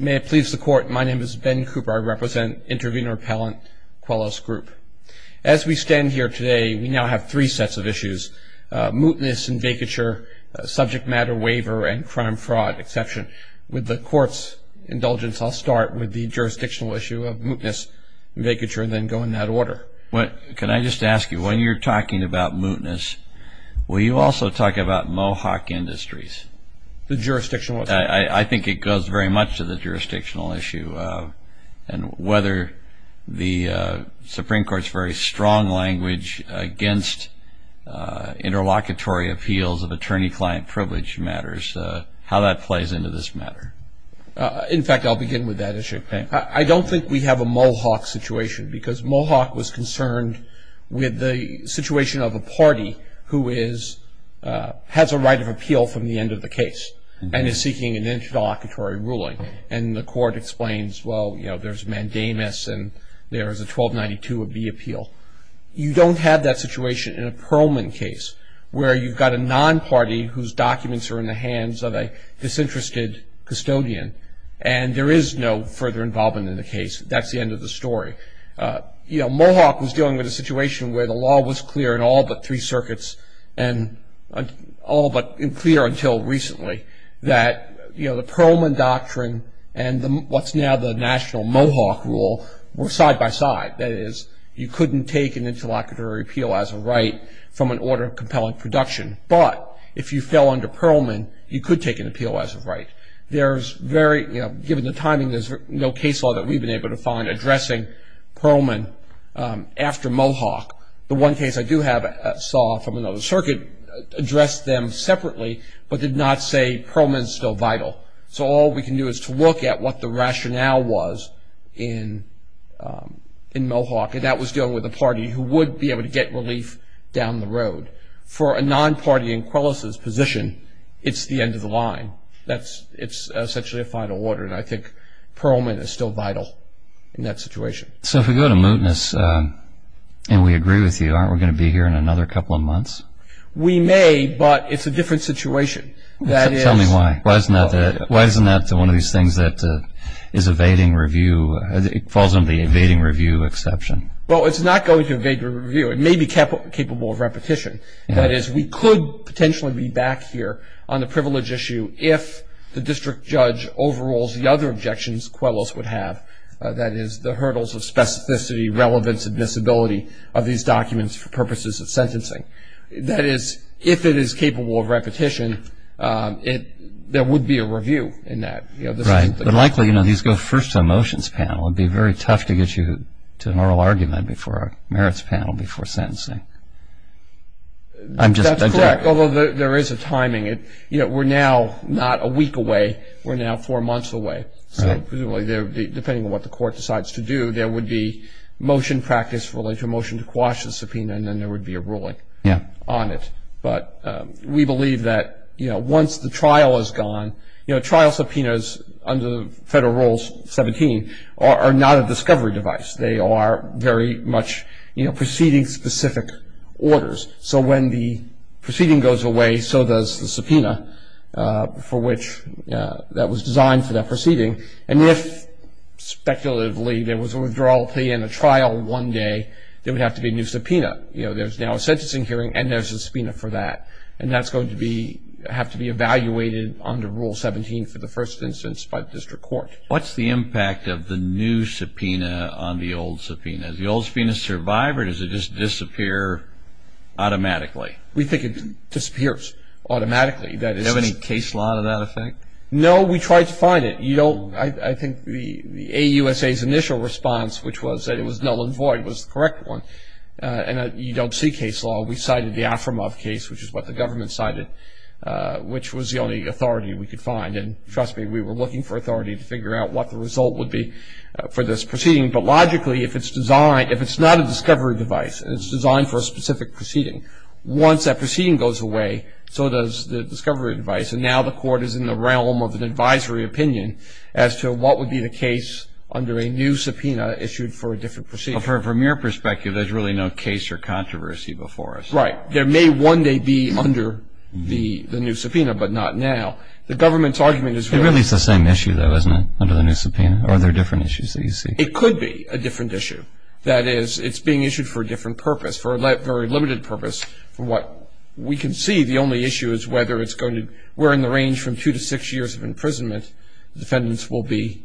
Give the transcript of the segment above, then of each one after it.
May it please the court, my name is Ben Cooper. I represent Intervenor Appellant Quellos Group. As we stand here today, we now have three sets of issues. Mootness and vacature, subject matter waiver, and crime fraud exception. With the court's indulgence, I'll start with the jurisdictional issue of mootness and vacature and then go in that order. Can I just ask you, when you're talking about mootness, will you also talk about Mohawk Industries? The jurisdictional issue? I think it goes very much to the jurisdictional issue and whether the Supreme Court's very strong language against interlocutory appeals of attorney-client privilege matters, how that plays into this matter. In fact, I'll begin with that issue. I don't think we have a Mohawk situation because Mohawk was concerned with the situation of a party who has a right of appeal from the end of the case and is seeking an interlocutory ruling. And the court explains, well, you know, there's mandamus and there is a 1292 of the appeal. You don't have that situation in a Perlman case where you've got a non-party whose documents are in the hands of a disinterested custodian and there is no further involvement in the case. That's the end of the story. Mohawk was dealing with a situation where the law was clear in all but three circuits and all but clear until recently that the Perlman doctrine and what's now the national Mohawk rule were side-by-side. That is, you couldn't take an interlocutory appeal as a right from an order of compelling production. But if you fell under Perlman, you could take an appeal as a right. Given the timing, there's no case law that we've been able to find addressing Perlman after Mohawk. The one case I do have saw from another circuit addressed them separately but did not say Perlman is still vital. So all we can do is to look at what the rationale was in Mohawk, and that was dealing with a party who would be able to get relief down the road. But for a non-party in Quellos' position, it's the end of the line. It's essentially a final order, and I think Perlman is still vital in that situation. So if we go to mootness and we agree with you, aren't we going to be here in another couple of months? We may, but it's a different situation. Tell me why. Why isn't that one of these things that falls under the evading review exception? Well, it's not going to evade review. It may be capable of repetition. That is, we could potentially be back here on the privilege issue if the district judge overrules the other objections Quellos would have. That is, the hurdles of specificity, relevance, and visibility of these documents for purposes of sentencing. That is, if it is capable of repetition, there would be a review in that. Right. But likely, you know, these go first to a motions panel. It would be very tough to get you to an oral argument before a merits panel before sentencing. That's correct, although there is a timing. You know, we're now not a week away. We're now four months away. So presumably, depending on what the court decides to do, there would be motion practice related to a motion to quash the subpoena, and then there would be a ruling on it. But we believe that, you know, once the trial is gone, you know, trial subpoenas under Federal Rule 17 are not a discovery device. They are very much, you know, proceeding-specific orders. So when the proceeding goes away, so does the subpoena for which that was designed for that proceeding. And if, speculatively, there was a withdrawal plea and a trial one day, there would have to be a new subpoena. You know, there's now a sentencing hearing and there's a subpoena for that. And that's going to have to be evaluated under Rule 17 for the first instance by the district court. What's the impact of the new subpoena on the old subpoena? Does the old subpoena survive or does it just disappear automatically? We think it disappears automatically. Do you have any case law to that effect? No, we tried to find it. I think the AUSA's initial response, which was that it was null and void, was the correct one. And you don't see case law. We cited the Afrimov case, which is what the government cited, which was the only authority we could find. And trust me, we were looking for authority to figure out what the result would be for this proceeding. But logically, if it's designed, if it's not a discovery device and it's designed for a specific proceeding, once that proceeding goes away, so does the discovery device. And now the Court is in the realm of an advisory opinion as to what would be the case under a new subpoena issued for a different proceeding. Well, from your perspective, there's really no case or controversy before us. Right. There may one day be under the new subpoena, but not now. The government's argument is really... It really is the same issue, though, isn't it, under the new subpoena? Or are there different issues that you see? It could be a different issue. That is, it's being issued for a different purpose, for a very limited purpose. From what we can see, the only issue is whether it's going to... we're in the range from two to six years of imprisonment, defendants will be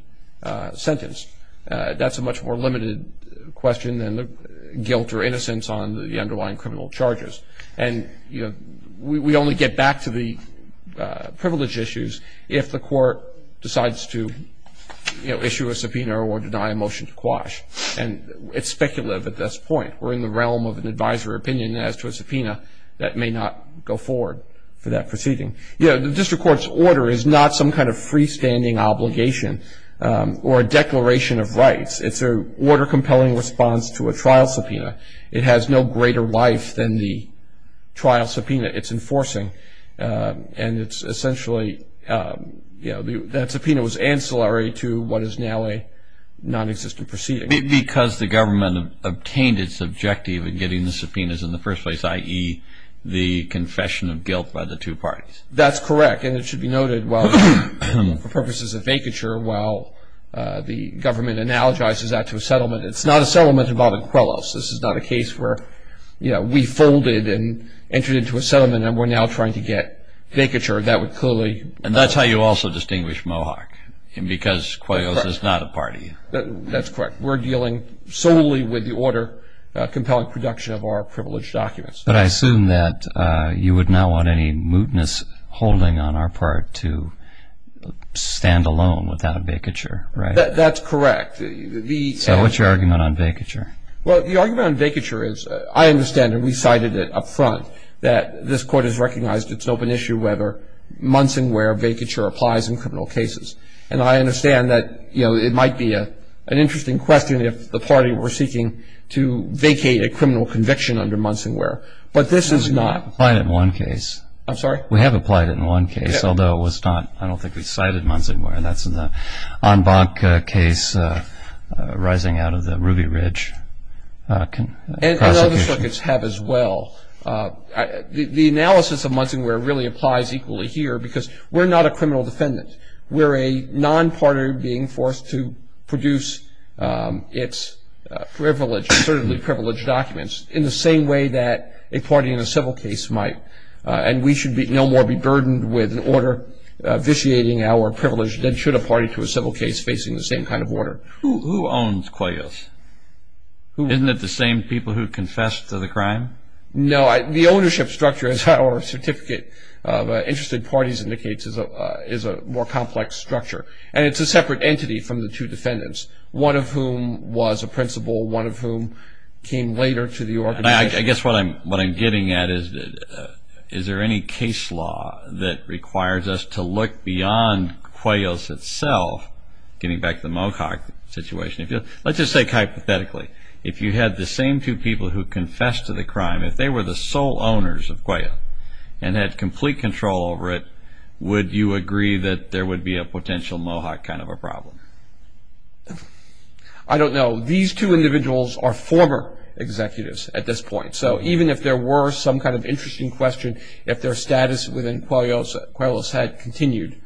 sentenced. That's a much more limited question than the guilt or innocence on the underlying criminal charges. And, you know, we only get back to the privilege issues if the Court decides to, you know, issue a subpoena or deny a motion to quash. And it's speculative at this point. We're in the realm of an advisory opinion as to a subpoena that may not go forward for that proceeding. You know, the District Court's order is not some kind of freestanding obligation or a declaration of rights. It's an order-compelling response to a trial subpoena. It has no greater life than the trial subpoena it's enforcing. And it's essentially, you know, that subpoena was ancillary to what is now a nonexistent proceeding. Because the government obtained its objective in getting the subpoenas in the first place, i.e., the confession of guilt by the two parties. That's correct. And it should be noted, well, for purposes of vacature, while the government analogizes that to a settlement, it's not a settlement involving Quellos. This is not a case where, you know, we folded and entered into a settlement, and we're now trying to get vacature. That would clearly – And that's how you also distinguish Mohawk, because Quellos is not a party. That's correct. We're dealing solely with the order-compelling production of our privileged documents. But I assume that you would not want any mootness holding on our part to stand alone without a vacature, right? That's correct. So what's your argument on vacature? Well, the argument on vacature is, I understand, and we cited it up front, that this Court has recognized it's an open issue whether months and where vacature applies in criminal cases. And I understand that, you know, it might be an interesting question if the party were seeking to vacate a criminal conviction under Munson-Wear. But this is not. We applied it in one case. I'm sorry? We have applied it in one case, although it was not – I don't think we cited Munson-Wear. That's in the Anbanca case, rising out of the Ruby Ridge prosecution. And other circuits have as well. The analysis of Munson-Wear really applies equally here, because we're not a criminal defendant. We're a non-partner being forced to produce its privileged, certainly privileged documents in the same way that a party in a civil case might. And we should no more be burdened with an order vitiating our privilege than should a party to a civil case facing the same kind of order. Who owns Qoyos? Isn't it the same people who confessed to the crime? No. The ownership structure, as our certificate of interested parties indicates, is a more complex structure. And it's a separate entity from the two defendants, one of whom was a principal, one of whom came later to the organization. I guess what I'm getting at is, is there any case law that requires us to look beyond Qoyos itself, getting back to the Mocock situation? Let's just say hypothetically, if you had the same two people who confessed to the crime, if they were the sole owners of Qoyos and had complete control over it, would you agree that there would be a potential Mohawk kind of a problem? I don't know. These two individuals are former executives at this point. So even if there were some kind of interesting question, if their status within Qoyos had continued,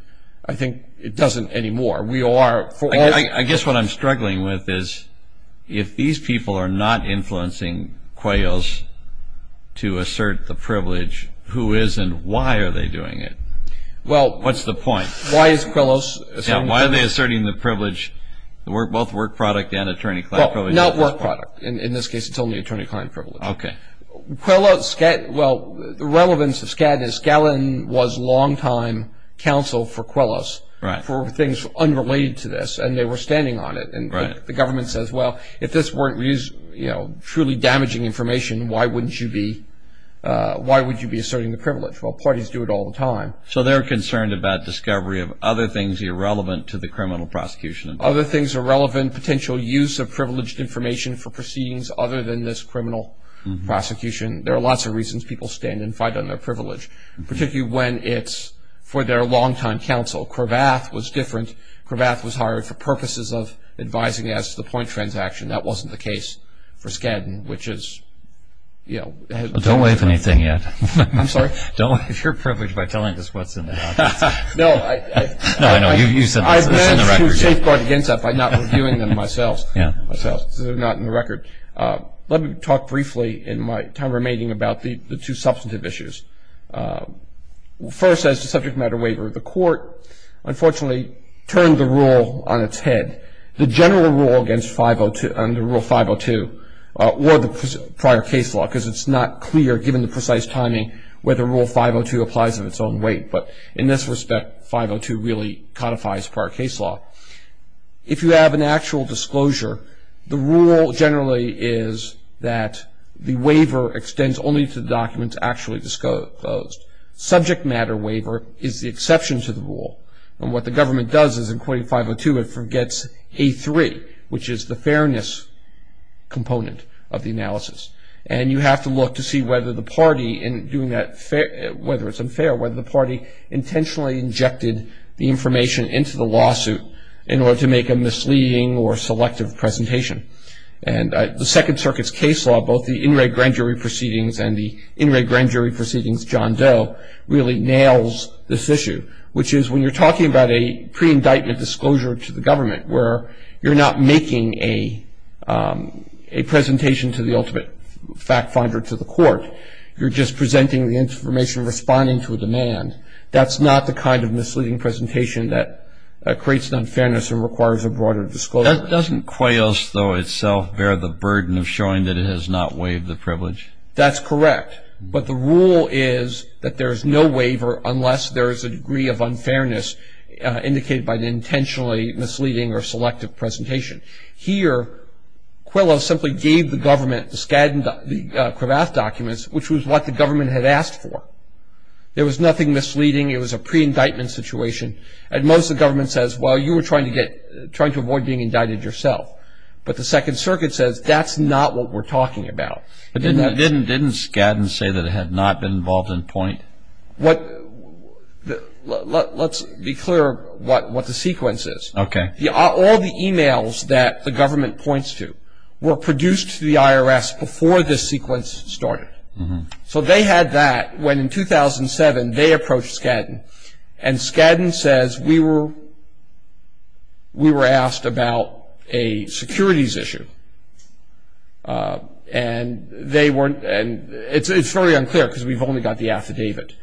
I think it doesn't anymore. I guess what I'm struggling with is, if these people are not influencing Qoyos to assert the privilege, who is and why are they doing it? What's the point? Why is Qoyos asserting the privilege? Why are they asserting the privilege, both work product and attorney-client privilege? Not work product. In this case, it's only attorney-client privilege. Okay. Well, the relevance of Skadden is Skadden was longtime counsel for Qoyos for things unrelated to this, and they were standing on it. And the government says, well, if this weren't truly damaging information, why would you be asserting the privilege? Well, parties do it all the time. So they're concerned about discovery of other things irrelevant to the criminal prosecution. Other things irrelevant, potential use of privileged information for proceedings other than this criminal prosecution. There are lots of reasons people stand and fight on their privilege, particularly when it's for their longtime counsel. Cravath was different. Cravath was hired for purposes of advising as to the point transaction. That wasn't the case for Skadden, which is, you know. Don't waive anything yet. I'm sorry? Don't waive your privilege by telling us what's in there. No. No, I know. You said that. It's in the record. I've managed to safeguard against that by not reviewing them myself. Yeah. So they're not in the record. Let me talk briefly in my time remaining about the two substantive issues. First, as to subject matter waiver, the court, unfortunately, turned the rule on its head. The general rule against Rule 502 or the prior case law, because it's not clear given the precise timing whether Rule 502 applies in its own weight. But in this respect, 502 really codifies prior case law. If you have an actual disclosure, the rule generally is that the waiver extends only to the documents actually disclosed. Subject matter waiver is the exception to the rule. And what the government does is, in Quoting 502, it forgets A3, which is the fairness component of the analysis. And you have to look to see whether the party in doing that, whether it's unfair, whether the party intentionally injected the information into the lawsuit in order to make a misleading or selective presentation. And the Second Circuit's case law, both the In Re Grand Jury Proceedings and the In Re Grand Jury Proceedings John Doe, really nails this issue, which is when you're talking about a pre-indictment disclosure to the government, where you're not making a presentation to the ultimate fact finder to the court. You're just presenting the information, responding to a demand. That's not the kind of misleading presentation that creates an unfairness and requires a broader disclosure. That doesn't, QUAOS, though, itself bear the burden of showing that it has not waived the privilege? That's correct. But the rule is that there is no waiver unless there is a degree of unfairness indicated by the intentionally misleading or selective presentation. Here, Quillow simply gave the government, the Skadden, the Cravath documents, which was what the government had asked for. There was nothing misleading. It was a pre-indictment situation. At most, the government says, well, you were trying to avoid being indicted yourself. But the Second Circuit says that's not what we're talking about. Didn't Skadden say that it had not been involved in point? Let's be clear what the sequence is. Okay. All the e-mails that the government points to were produced to the IRS before this sequence started. So they had that when, in 2007, they approached Skadden, and Skadden says, we were asked about a securities issue. And it's very unclear because we've only got the affidavit.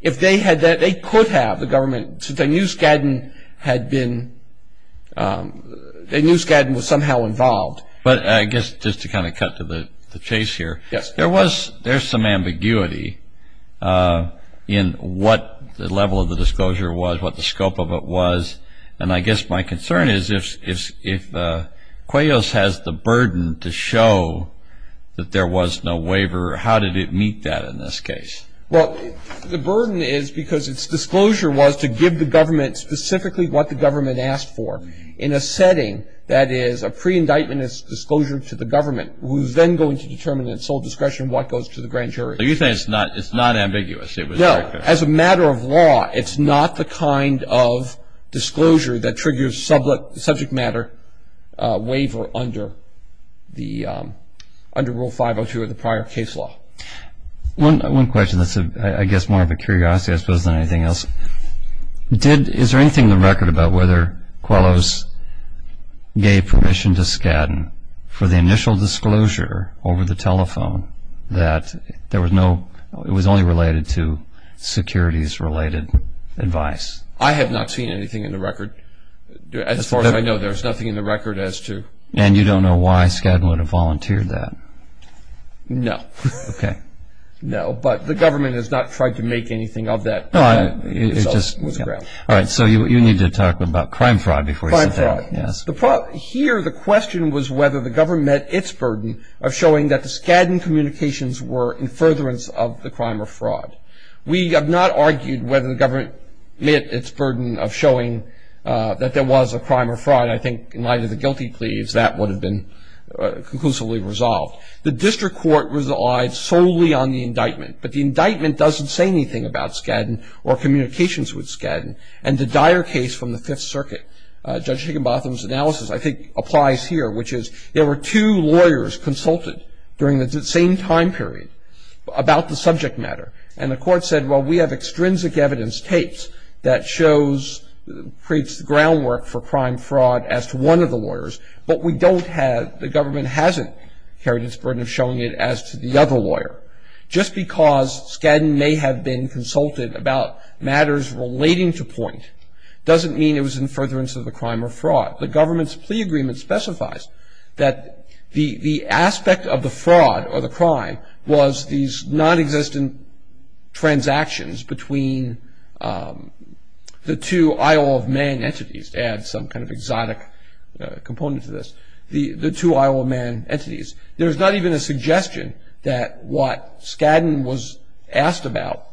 If they had that, they could have, the government, since they knew Skadden had been, they knew Skadden was somehow involved. But I guess just to kind of cut to the chase here. Yes. There's some ambiguity in what the level of the disclosure was, what the scope of it was. And I guess my concern is if Quillow has the burden to show that there was no waiver, how did it meet that in this case? Well, the burden is because its disclosure was to give the government specifically what the government asked for in a setting that is a pre-indictment disclosure to the government, who's then going to determine at sole discretion what goes to the grand jury. So you think it's not ambiguous? No. As a matter of law, it's not the kind of disclosure that triggers subject matter waiver under the, under Rule 502 of the prior case law. One question that's, I guess, more of a curiosity, I suppose, than anything else. Did, is there anything in the record about whether Quillow's gave permission to Skadden for the initial disclosure over the telephone that there was no, it was only related to securities-related advice? I have not seen anything in the record. As far as I know, there's nothing in the record as to. And you don't know why Skadden would have volunteered that? No. Okay. No, but the government has not tried to make anything of that. No, I, it's just, all right, so you need to talk about crime fraud before you sit down. Crime fraud. Yes. Here, the question was whether the government met its burden of showing that the Skadden communications were in furtherance of the crime or fraud. We have not argued whether the government met its burden of showing that there was a crime or fraud. I think in light of the guilty pleas, that would have been conclusively resolved. The district court relied solely on the indictment. But the indictment doesn't say anything about Skadden or communications with Skadden. And the dire case from the Fifth Circuit, Judge Higginbotham's analysis, I think, applies here, which is there were two lawyers consulted during the same time period about the subject matter. And the court said, well, we have extrinsic evidence tapes that shows, creates the groundwork for crime fraud as to one of the lawyers. But we don't have, the government hasn't carried its burden of showing it as to the other lawyer. Just because Skadden may have been consulted about matters relating to point, doesn't mean it was in furtherance of the crime or fraud. The government's plea agreement specifies that the aspect of the fraud or the crime was these nonexistent transactions between the two Isle of Man entities. To add some kind of exotic component to this. The two Isle of Man entities. There's not even a suggestion that what Skadden was asked about,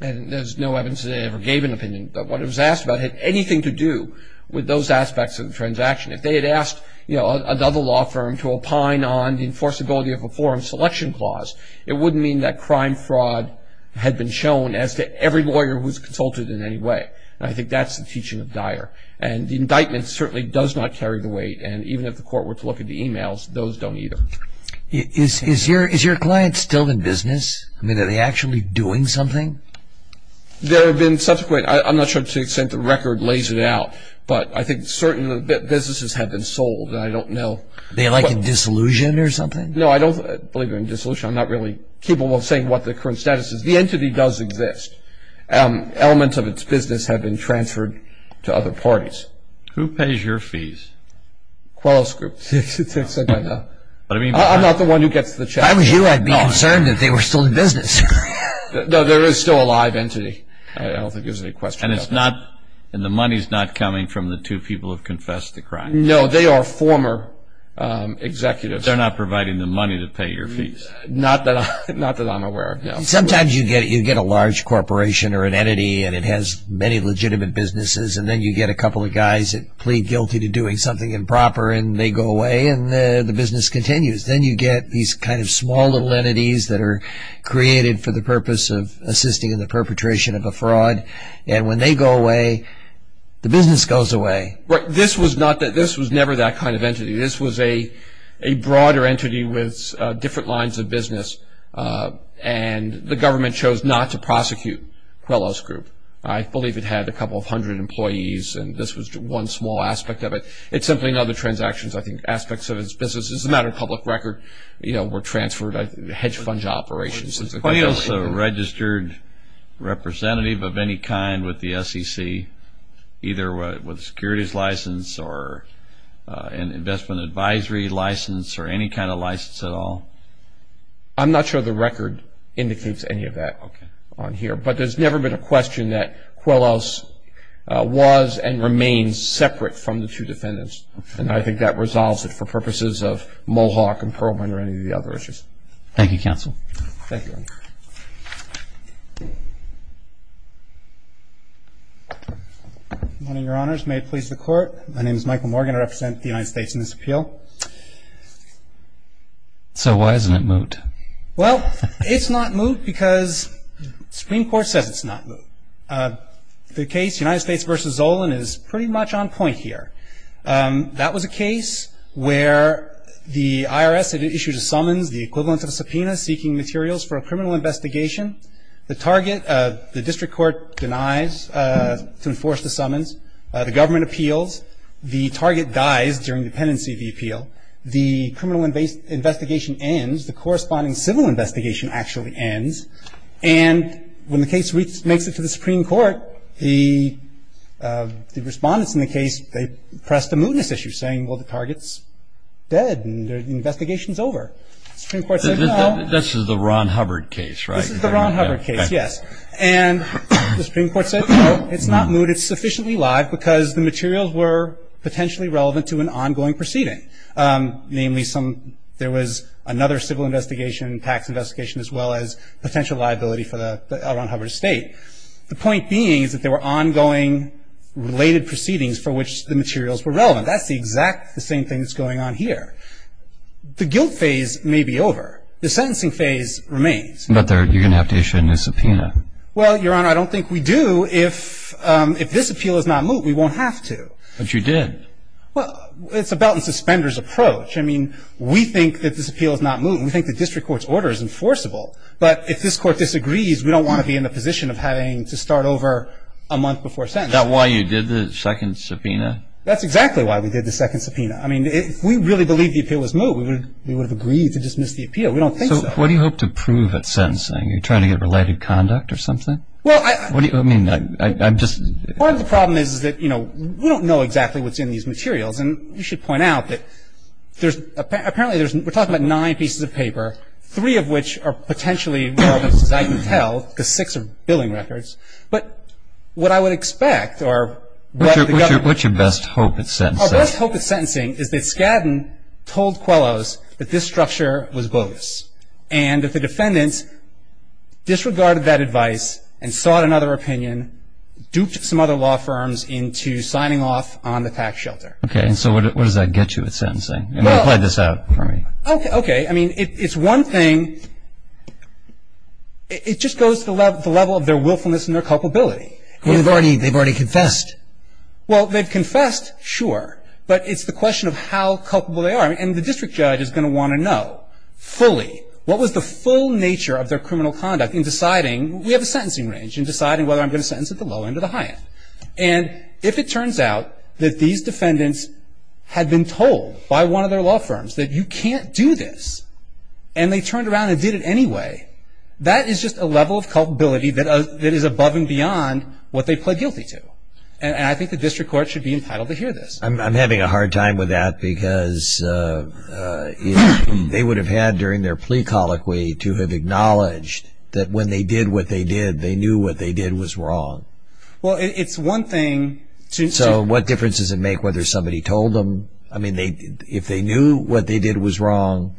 and there's no evidence that they ever gave an opinion, but what it was asked about had anything to do with those aspects of the transaction. If they had asked another law firm to opine on the enforceability of a forum selection clause, it wouldn't mean that crime fraud had been shown as to every lawyer who's consulted in any way. And I think that's the teaching of Dyer. And the indictment certainly does not carry the weight, and even if the court were to look at the emails, those don't either. Is your client still in business? I mean, are they actually doing something? There have been subsequent, I'm not sure to the extent the record lays it out, but I think certain businesses have been sold, and I don't know. They like in disillusion or something? No, I don't believe in disillusion. I'm not really capable of saying what the current status is. The entity does exist. Elements of its business have been transferred to other parties. Who pays your fees? Quellos Group. I'm not the one who gets the check. If I was you, I'd be concerned that they were still in business. No, there is still a live entity. I don't think there's any question about that. And the money's not coming from the two people who confessed the crime? No, they are former executives. They're not providing the money to pay your fees? Not that I'm aware of, no. Sometimes you get a large corporation or an entity, and it has many legitimate businesses, and then you get a couple of guys that plead guilty to doing something improper, and they go away, and the business continues. Then you get these kind of small little entities that are created for the purpose of assisting in the perpetration of a fraud, and when they go away, the business goes away. Right. This was never that kind of entity. This was a broader entity with different lines of business, and the government chose not to prosecute Quellos Group. I believe it had a couple of hundred employees, and this was one small aspect of it. It's simply in other transactions, I think, aspects of its business. It's a matter of public record, you know, were transferred, hedge fund operations. Was Quellos a registered representative of any kind with the SEC, either with a securities license or an investment advisory license or any kind of license at all? I'm not sure the record indicates any of that on here, but there's never been a question that Quellos was and remains separate from the two defendants, and I think that resolves it for purposes of Mohawk and Perlman or any of the other issues. Thank you, Counsel. Thank you. Good morning, Your Honors. May it please the Court. My name is Michael Morgan. I represent the United States in this appeal. So why isn't it moot? Well, it's not moot because the Supreme Court says it's not moot. The case United States v. Zolan is pretty much on point here. That was a case where the IRS had issued a summons, the equivalent of a subpoena seeking materials for a criminal investigation. The target, the district court denies to enforce the summons. The government appeals. The target dies during the pendency of the appeal. The criminal investigation ends. The corresponding civil investigation actually ends, and when the case makes it to the Supreme Court, the respondents in the case, they pressed a mootness issue saying, well, the target's dead and the investigation's over. The Supreme Court said, no. This is the Ron Hubbard case, right? This is the Ron Hubbard case, yes. And the Supreme Court said, no, it's not moot. It's sufficiently live because the materials were potentially relevant to an ongoing proceeding, namely there was another civil investigation, tax investigation, as well as potential liability for the Ron Hubbard estate. The point being is that there were ongoing related proceedings for which the materials were relevant. That's the exact same thing that's going on here. The guilt phase may be over. The sentencing phase remains. But you're going to have to issue a new subpoena. Well, Your Honor, I don't think we do. If this appeal is not moot, we won't have to. But you did. Well, it's a belt and suspenders approach. I mean, we think that this appeal is not moot. We think the district court's order is enforceable. But if this court disagrees, we don't want to be in the position of having to start over a month before sentencing. Is that why you did the second subpoena? That's exactly why we did the second subpoena. I mean, if we really believed the appeal was moot, we would have agreed to dismiss the appeal. We don't think so. So what do you hope to prove at sentencing? Are you trying to get related conduct or something? Well, I – I mean, I'm just – Part of the problem is that, you know, we don't know exactly what's in these materials. Three of which are potentially relevant, as I can tell, because six are billing records. But what I would expect or what the government – What's your best hope at sentencing? Our best hope at sentencing is that Skadden told Quellos that this structure was bogus. And that the defendants disregarded that advice and sought another opinion, duped some other law firms into signing off on the tax shelter. Okay. And so what does that get you at sentencing? Well – I mean, play this out for me. Okay. Okay. I mean, it's one thing – it just goes to the level of their willfulness and their culpability. They've already confessed. Well, they've confessed, sure. But it's the question of how culpable they are. And the district judge is going to want to know fully what was the full nature of their criminal conduct in deciding – we have a sentencing range – in deciding whether I'm going to sentence at the low end or the high end. And if it turns out that these defendants had been told by one of their law firms that you can't do this and they turned around and did it anyway, that is just a level of culpability that is above and beyond what they pled guilty to. And I think the district court should be entitled to hear this. I'm having a hard time with that because they would have had during their plea colloquy to have acknowledged that when they did what they did, they knew what they did was wrong. Well, it's one thing to – So what difference does it make whether somebody told them – I mean, if they knew what they did was wrong,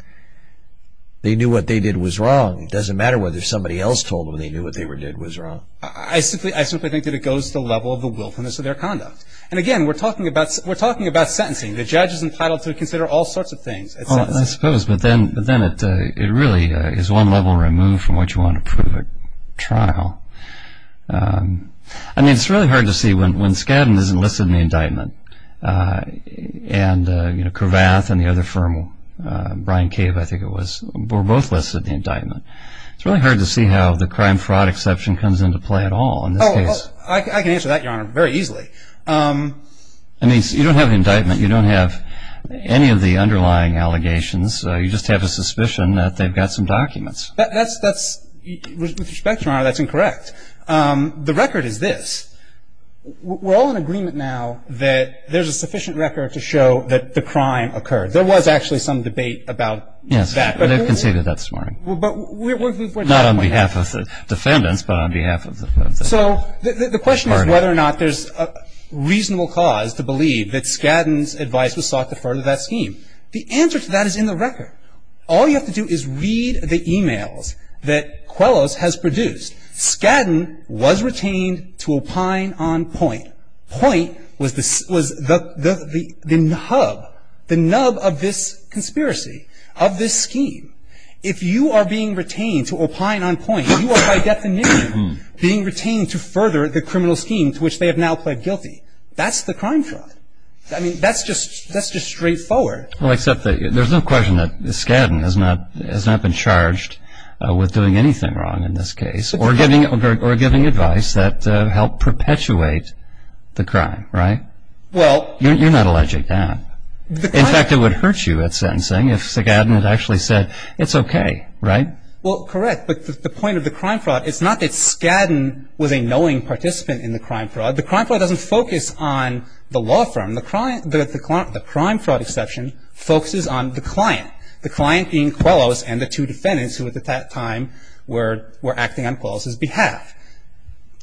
they knew what they did was wrong. It doesn't matter whether somebody else told them they knew what they did was wrong. I simply think that it goes to the level of the willfulness of their conduct. And again, we're talking about sentencing. The judge is entitled to consider all sorts of things at sentencing. Well, I suppose, but then it really is one level removed from what you want to prove at trial. I mean, it's really hard to see when Skadden isn't listed in the indictment and Cravath and the other firm, Brian Cave, I think it was, were both listed in the indictment. It's really hard to see how the crime fraud exception comes into play at all in this case. I can answer that, Your Honor, very easily. I mean, you don't have the indictment. You don't have any of the underlying allegations. You just have a suspicion that they've got some documents. That's – with respect, Your Honor, that's incorrect. The record is this. We're all in agreement now that there's a sufficient record to show that the crime occurred. There was actually some debate about that. Yes, they've conceded that this morning. Not on behalf of the defendants, but on behalf of the – So the question is whether or not there's a reasonable cause to believe that Skadden's advice was sought to further that scheme. The answer to that is in the record. All you have to do is read the e-mails that Quellos has produced. Skadden was retained to opine on point. Point was the hub, the nub of this conspiracy, of this scheme. If you are being retained to opine on point, you are by definition being retained to further the criminal scheme to which they have now pled guilty. That's the crime fraud. I mean, that's just straightforward. Well, except that there's no question that Skadden has not been charged with doing anything wrong in this case or giving advice that helped perpetuate the crime, right? Well – You're not alleged to have. In fact, it would hurt you at sentencing if Skadden had actually said, it's okay, right? Well, correct. But the point of the crime fraud, it's not that Skadden was a knowing participant in the crime fraud. The crime fraud doesn't focus on the law firm. The crime fraud exception focuses on the client, the client being Quellos and the two defendants who at that time were acting on Quellos' behalf.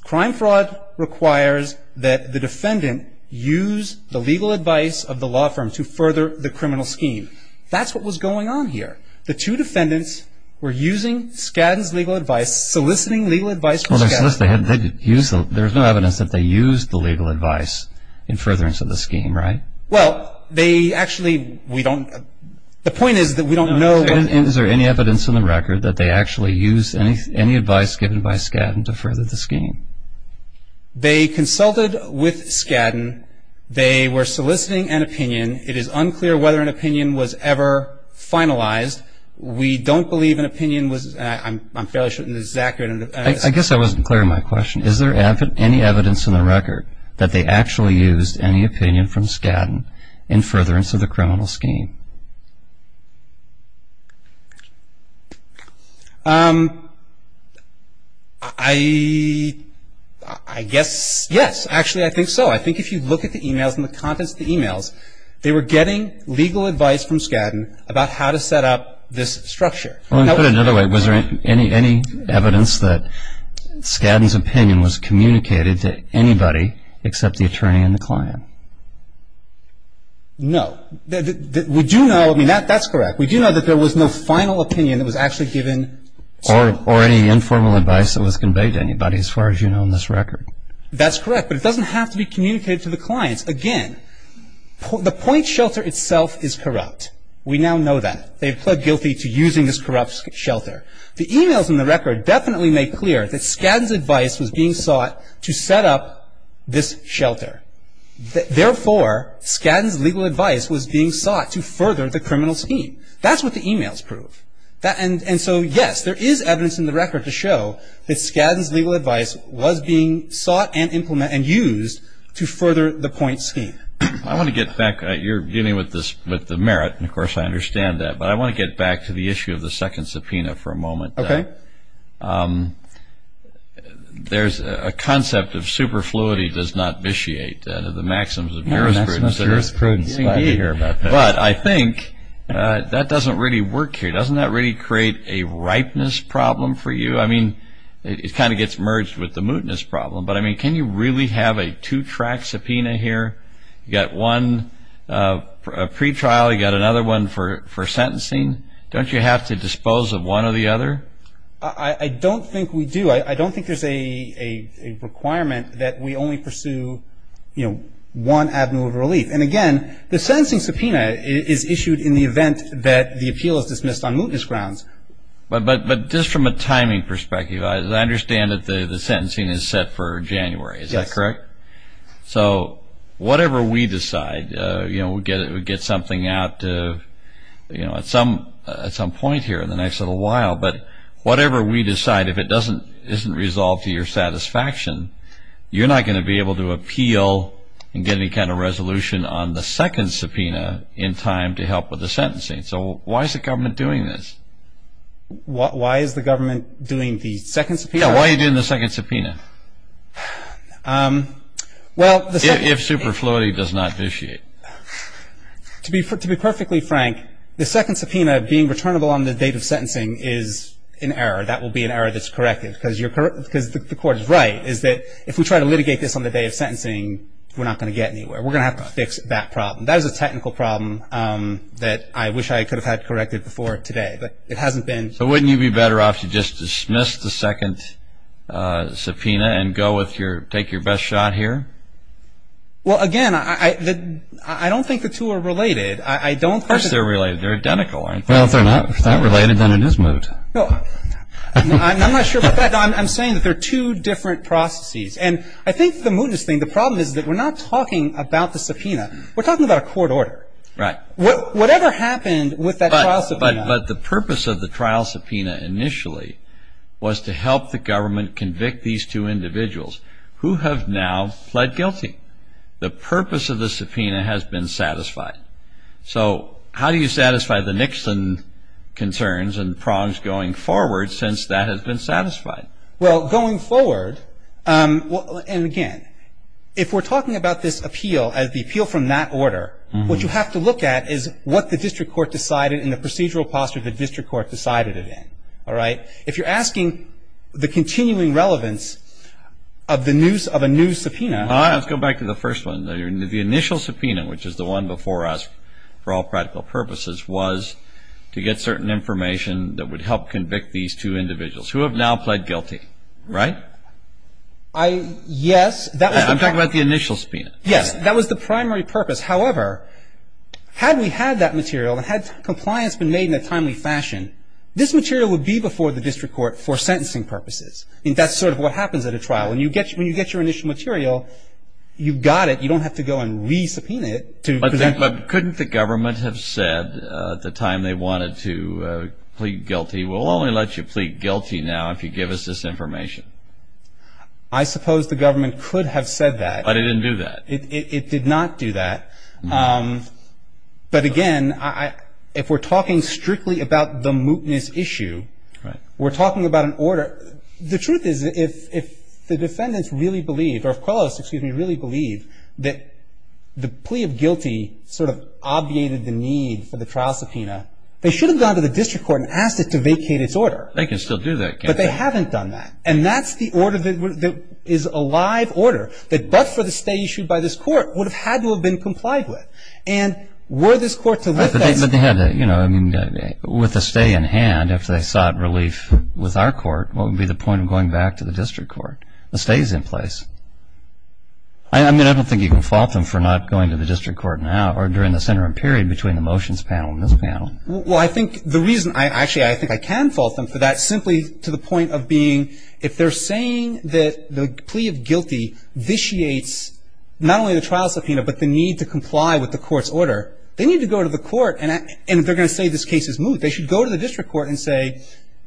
Crime fraud requires that the defendant use the legal advice of the law firm to further the criminal scheme. That's what was going on here. The two defendants were using Skadden's legal advice, soliciting legal advice from Skadden. There's no evidence that they used the legal advice in furtherance of the scheme, right? Well, they actually – we don't – the point is that we don't know – Is there any evidence in the record that they actually used any advice given by Skadden to further the scheme? They consulted with Skadden. They were soliciting an opinion. It is unclear whether an opinion was ever finalized. We don't believe an opinion was – I'm fairly certain this is accurate. I guess I wasn't clear on my question. Is there any evidence in the record that they actually used any opinion from Skadden in furtherance of the criminal scheme? I guess yes. Actually, I think so. I think if you look at the emails and the contents of the emails, they were getting legal advice from Skadden about how to set up this structure. Put it another way, was there any evidence that Skadden's opinion was communicated to anybody except the attorney and the client? No. We do know – I mean, that's correct. We do know that there was no final opinion that was actually given. Or any informal advice that was conveyed to anybody as far as you know in this record. That's correct, but it doesn't have to be communicated to the clients. Again, the point shelter itself is corrupt. We now know that. They have pled guilty to using this corrupt shelter. The emails in the record definitely make clear that Skadden's advice was being sought to set up this shelter. Therefore, Skadden's legal advice was being sought to further the criminal scheme. That's what the emails prove. And so, yes, there is evidence in the record to show that Skadden's legal advice was being sought and implemented and used to further the point scheme. I want to get back. You're dealing with the merit, and of course I understand that. But I want to get back to the issue of the second subpoena for a moment. Okay. There's a concept of superfluity does not vitiate the maxims of jurisprudence. I'm glad to hear about this. But I think that doesn't really work here. Doesn't that really create a ripeness problem for you? I mean, it kind of gets merged with the mootness problem. But, I mean, can you really have a two-track subpoena here? You've got one pre-trial. You've got another one for sentencing. Don't you have to dispose of one or the other? I don't think we do. I don't think there's a requirement that we only pursue, you know, one avenue of relief. And, again, the sentencing subpoena is issued in the event that the appeal is dismissed on mootness grounds. But just from a timing perspective, I understand that the sentencing is set for January. Is that correct? Yes. So whatever we decide, you know, we get something out at some point here in the next little while. But whatever we decide, if it isn't resolved to your satisfaction, you're not going to be able to appeal and get any kind of resolution on the second subpoena in time to help with the sentencing. So why is the government doing this? Why is the government doing the second subpoena? Yeah, why are you doing the second subpoena if superfluity does not vitiate? To be perfectly frank, the second subpoena being returnable on the date of sentencing is an error. That will be an error that's corrected because the court is right, is that if we try to litigate this on the day of sentencing, we're not going to get anywhere. We're going to have to fix that problem. That is a technical problem that I wish I could have had corrected before today, but it hasn't been. So wouldn't you be better off to just dismiss the second subpoena and go with your – take your best shot here? Well, again, I don't think the two are related. I don't think – Of course they're related. They're identical, aren't they? Well, if they're not related, then it is moot. No, I'm not sure about that. I'm saying that they're two different processes. And I think the mootness thing, the problem is that we're not talking about the subpoena. Right. Whatever happened with that trial subpoena – But the purpose of the trial subpoena initially was to help the government convict these two individuals who have now pled guilty. The purpose of the subpoena has been satisfied. So how do you satisfy the Nixon concerns and prongs going forward since that has been satisfied? Well, going forward – and again, if we're talking about this appeal as the appeal from that order, what you have to look at is what the district court decided in the procedural posture the district court decided it in. All right? If you're asking the continuing relevance of a new subpoena – All right. Let's go back to the first one. The initial subpoena, which is the one before us for all practical purposes, was to get certain information that would help convict these two individuals who have now pled guilty. Right? I – yes. I'm talking about the initial subpoena. Yes. That was the primary purpose. However, had we had that material and had compliance been made in a timely fashion, this material would be before the district court for sentencing purposes. I mean, that's sort of what happens at a trial. When you get your initial material, you've got it. You don't have to go and re-subpoena it to present – But couldn't the government have said at the time they wanted to plead guilty, we'll only let you plead guilty now if you give us this information? I suppose the government could have said that. But it didn't do that. It did not do that. But, again, if we're talking strictly about the mootness issue, we're talking about an order. The truth is, if the defendants really believe, or if Quellos, excuse me, really believe that the plea of guilty sort of obviated the need for the trial subpoena, they should have gone to the district court and asked it to vacate its order. They can still do that, can't they? But they haven't done that. And that's the order that is a live order that, but for the stay issued by this court, would have had to have been complied with. And were this court to lift that – But they had to – you know, I mean, with the stay in hand, if they sought relief with our court, what would be the point of going back to the district court? The stay is in place. I mean, I don't think you can fault them for not going to the district court now or during the interim period between the motions panel and this panel. Well, I think the reason – actually, I think I can fault them for that, simply to the point of being if they're saying that the plea of guilty vitiates not only the trial subpoena but the need to comply with the court's order, they need to go to the court and they're going to say this case is moot. They should go to the district court and say,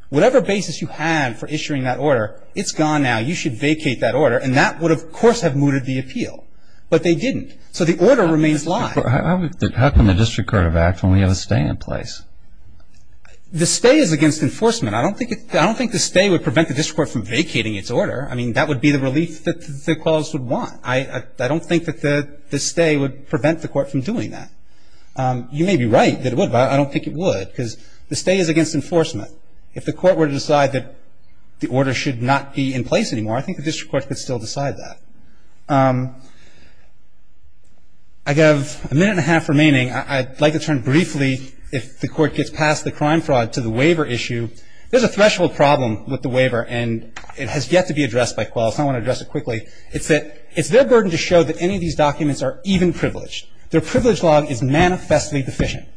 whatever basis you have for issuing that order, it's gone now. You should vacate that order. And that would, of course, have mooted the appeal. But they didn't. So the order remains live. How can the district court have act when we have a stay in place? The stay is against enforcement. I don't think the stay would prevent the district court from vacating its order. I mean, that would be the relief that the cause would want. I don't think that the stay would prevent the court from doing that. You may be right that it would, but I don't think it would because the stay is against enforcement. If the court were to decide that the order should not be in place anymore, I think the district court could still decide that. I have a minute and a half remaining. I'd like to turn briefly, if the Court gets past the crime fraud, to the waiver issue. There's a threshold problem with the waiver, and it has yet to be addressed by Quell. So I want to address it quickly. It's that it's their burden to show that any of these documents are even privileged. Their privilege log is manifestly deficient.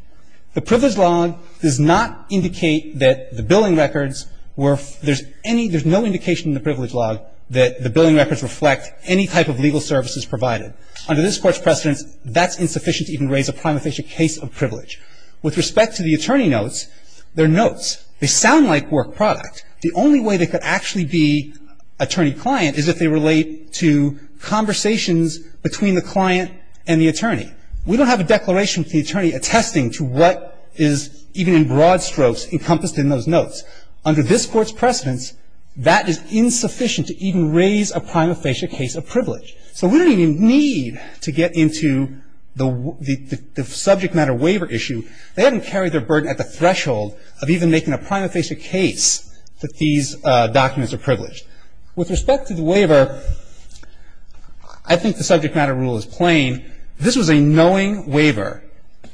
The privilege log does not indicate that the billing records were – there's any – there's no indication in the privilege log that the billing records reflect any type of legal services provided. Under this Court's precedence, that's insufficient to even raise a prima facie case of privilege. With respect to the attorney notes, they're notes. They sound like work product. The only way they could actually be attorney-client is if they relate to conversations between the client and the attorney. We don't have a declaration from the attorney attesting to what is even in broad strokes encompassed in those notes. Under this Court's precedence, that is insufficient to even raise a prima facie case of privilege. So we don't even need to get into the subject matter waiver issue. They haven't carried their burden at the threshold of even making a prima facie case that these documents are privileged. With respect to the waiver, I think the subject matter rule is plain. This was a knowing waiver.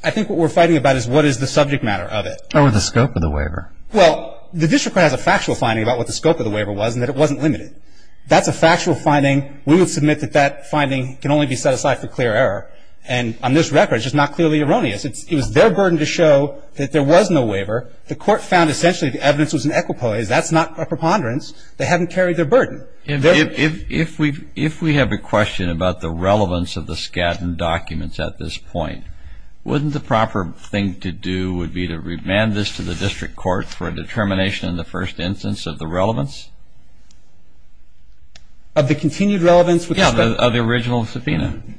I think what we're fighting about is what is the subject matter of it. Or the scope of the waiver. Well, the district court has a factual finding about what the scope of the waiver was and that it wasn't limited. That's a factual finding. We would submit that that finding can only be set aside for clear error. And on this record, it's just not clearly erroneous. It was their burden to show that there was no waiver. The Court found essentially the evidence was in equipoise. That's not a preponderance. They haven't carried their burden. If we have a question about the relevance of the Skadden documents at this point, wouldn't the proper thing to do would be to remand this to the district court for a determination in the first instance of the relevance? Of the continued relevance with respect to the original subpoena. Yeah.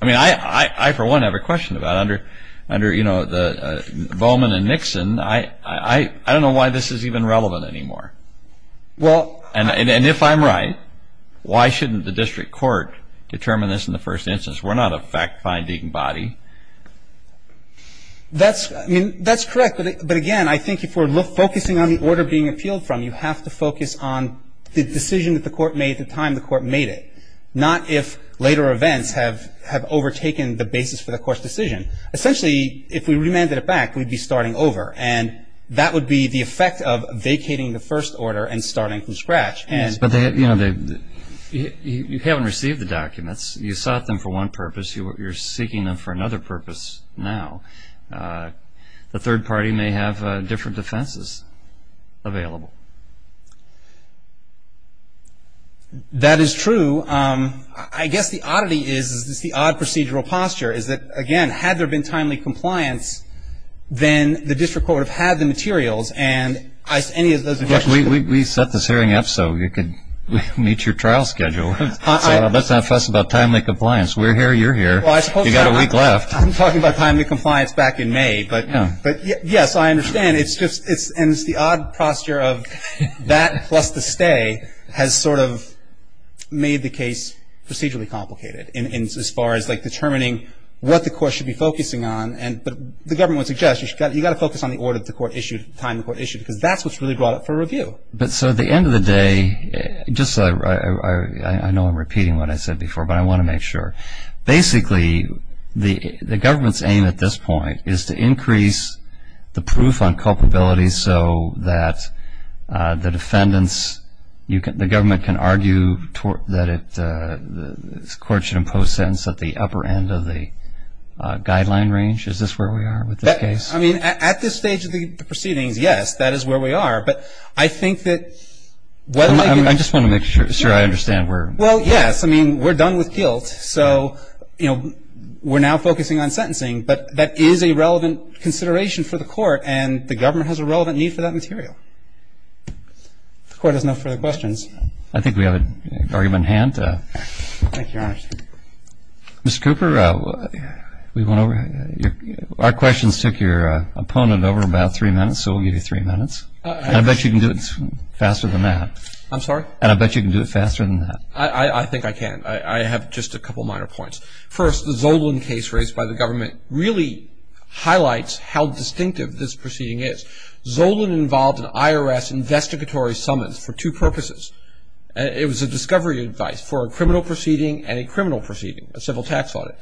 I mean, I for one have a question about it. Under, you know, Bowman and Nixon, I don't know why this is even relevant anymore. Well. And if I'm right, why shouldn't the district court determine this in the first instance? We're not a fact-finding body. That's correct. But, again, I think if we're focusing on the order being appealed from, you have to focus on the decision that the court made at the time the court made it, not if later events have overtaken the basis for the court's decision. Essentially, if we remanded it back, we'd be starting over. And that would be the effect of vacating the first order and starting from scratch. But, you know, you haven't received the documents. You sought them for one purpose. You're seeking them for another purpose now. The third party may have different defenses available. That is true. I guess the oddity is, it's the odd procedural posture, is that, again, had there been timely compliance, then the district court would have had the materials. And any of those objections? We set this hearing up so you could meet your trial schedule. So let's not fuss about timely compliance. We're here. You're here. You've got a week left. I'm talking about timely compliance back in May. But, yes, I understand. And it's the odd posture of that plus the stay has sort of made the case procedurally complicated as far as determining what the court should be focusing on. But the government would suggest you've got to focus on the order the court issued, the time the court issued, because that's what's really brought up for review. So at the end of the day, just so I know I'm repeating what I said before, but I want to make sure, basically, the government's aim at this point is to increase the proof on culpability so that the defendants, the government can argue that the court should impose a sentence at the upper end of the guideline range. Is this where we are with this case? I mean, at this stage of the proceedings, yes, that is where we are. But I think that whether they do it. I just want to make sure I understand. Well, yes. I mean, we're done with guilt. So, you know, we're now focusing on sentencing. But that is a relevant consideration for the court. And the government has a relevant need for that material. If the court has no further questions. I think we have an argument in hand. Thank you, Your Honor. Mr. Cooper, we went over. Our questions took your opponent over about three minutes, so we'll give you three minutes. I bet you can do it faster than that. I'm sorry? And I bet you can do it faster than that. I think I can. I have just a couple minor points. First, the Zolan case raised by the government really highlights how distinctive this proceeding is. Zolan involved an IRS investigatory summons for two purposes. It was a discovery advice for a criminal proceeding and a criminal proceeding, a civil tax audit.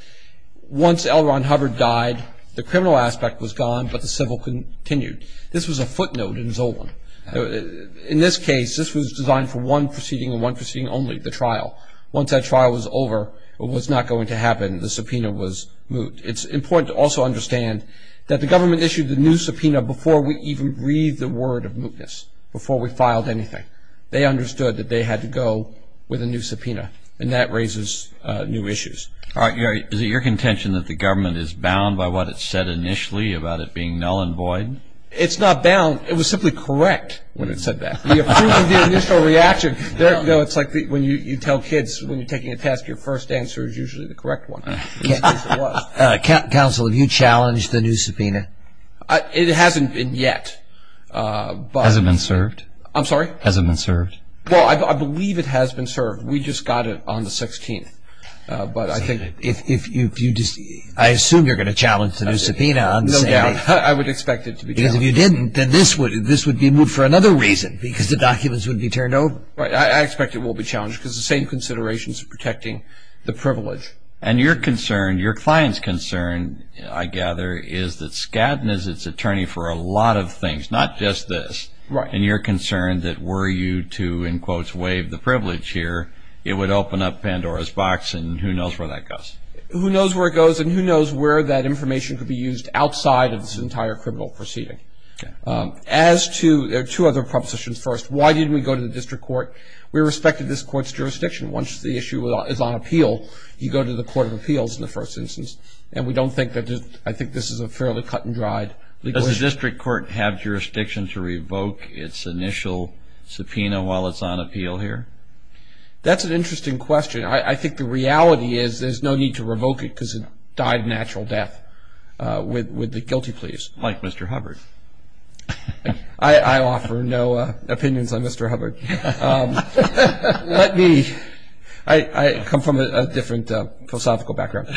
Once L. Ron Hubbard died, the criminal aspect was gone, but the civil continued. This was a footnote in Zolan. In this case, this was designed for one proceeding and one proceeding only, the trial. Once that trial was over, what was not going to happen, the subpoena was moot. It's important to also understand that the government issued the new subpoena before we even breathed the word of mootness, before we filed anything. They understood that they had to go with a new subpoena, and that raises new issues. All right, Gary. Is it your contention that the government is bound by what it said initially about it being null and void? It's not bound. It was simply correct when it said that. The approval of the initial reaction, it's like when you tell kids when you're taking a test, your first answer is usually the correct one, which it was. Counsel, have you challenged the new subpoena? It hasn't been yet. Has it been served? I'm sorry? Has it been served? Well, I believe it has been served. We just got it on the 16th, but I think if you just – I assume you're going to challenge the new subpoena. No doubt. I would expect it to be challenged. Because if you didn't, then this would be moot for another reason, because the documents would be turned over. I expect it will be challenged, because the same considerations are protecting the privilege. And your concern, your client's concern, I gather, is that Skadden is its attorney for a lot of things, not just this. Right. And you're concerned that were you to, in quotes, waive the privilege here, it would open up Pandora's box, and who knows where that goes? Who knows where it goes, and who knows where that information could be used outside of this entire criminal proceeding. As to – two other propositions first. Why didn't we go to the district court? We respected this court's jurisdiction. Once the issue is on appeal, you go to the court of appeals in the first instance. And we don't think that – I think this is a fairly cut-and-dried legal issue. Does the district court have jurisdiction to revoke its initial subpoena while it's on appeal here? That's an interesting question. I think the reality is there's no need to revoke it because it died a natural death with the guilty pleas. Like Mr. Hubbard. I offer no opinions on Mr. Hubbard. Let me – I come from a different philosophical background.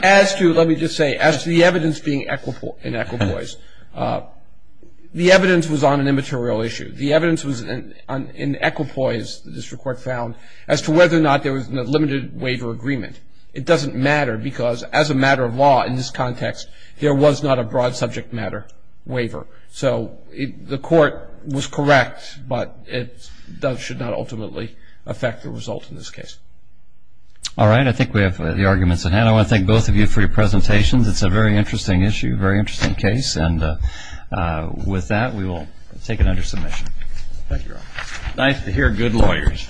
As to – let me just say, as to the evidence being in equipoise, the evidence was on an immaterial issue. The evidence was in equipoise, the district court found, as to whether or not there was a limited waiver agreement. It doesn't matter because as a matter of law in this context, there was not a broad subject matter waiver. So the court was correct, but it should not ultimately affect the result in this case. All right. I think we have the arguments at hand. I want to thank both of you for your presentations. It's a very interesting issue, very interesting case. And with that, we will take it under submission. Thank you. Nice to hear good lawyers.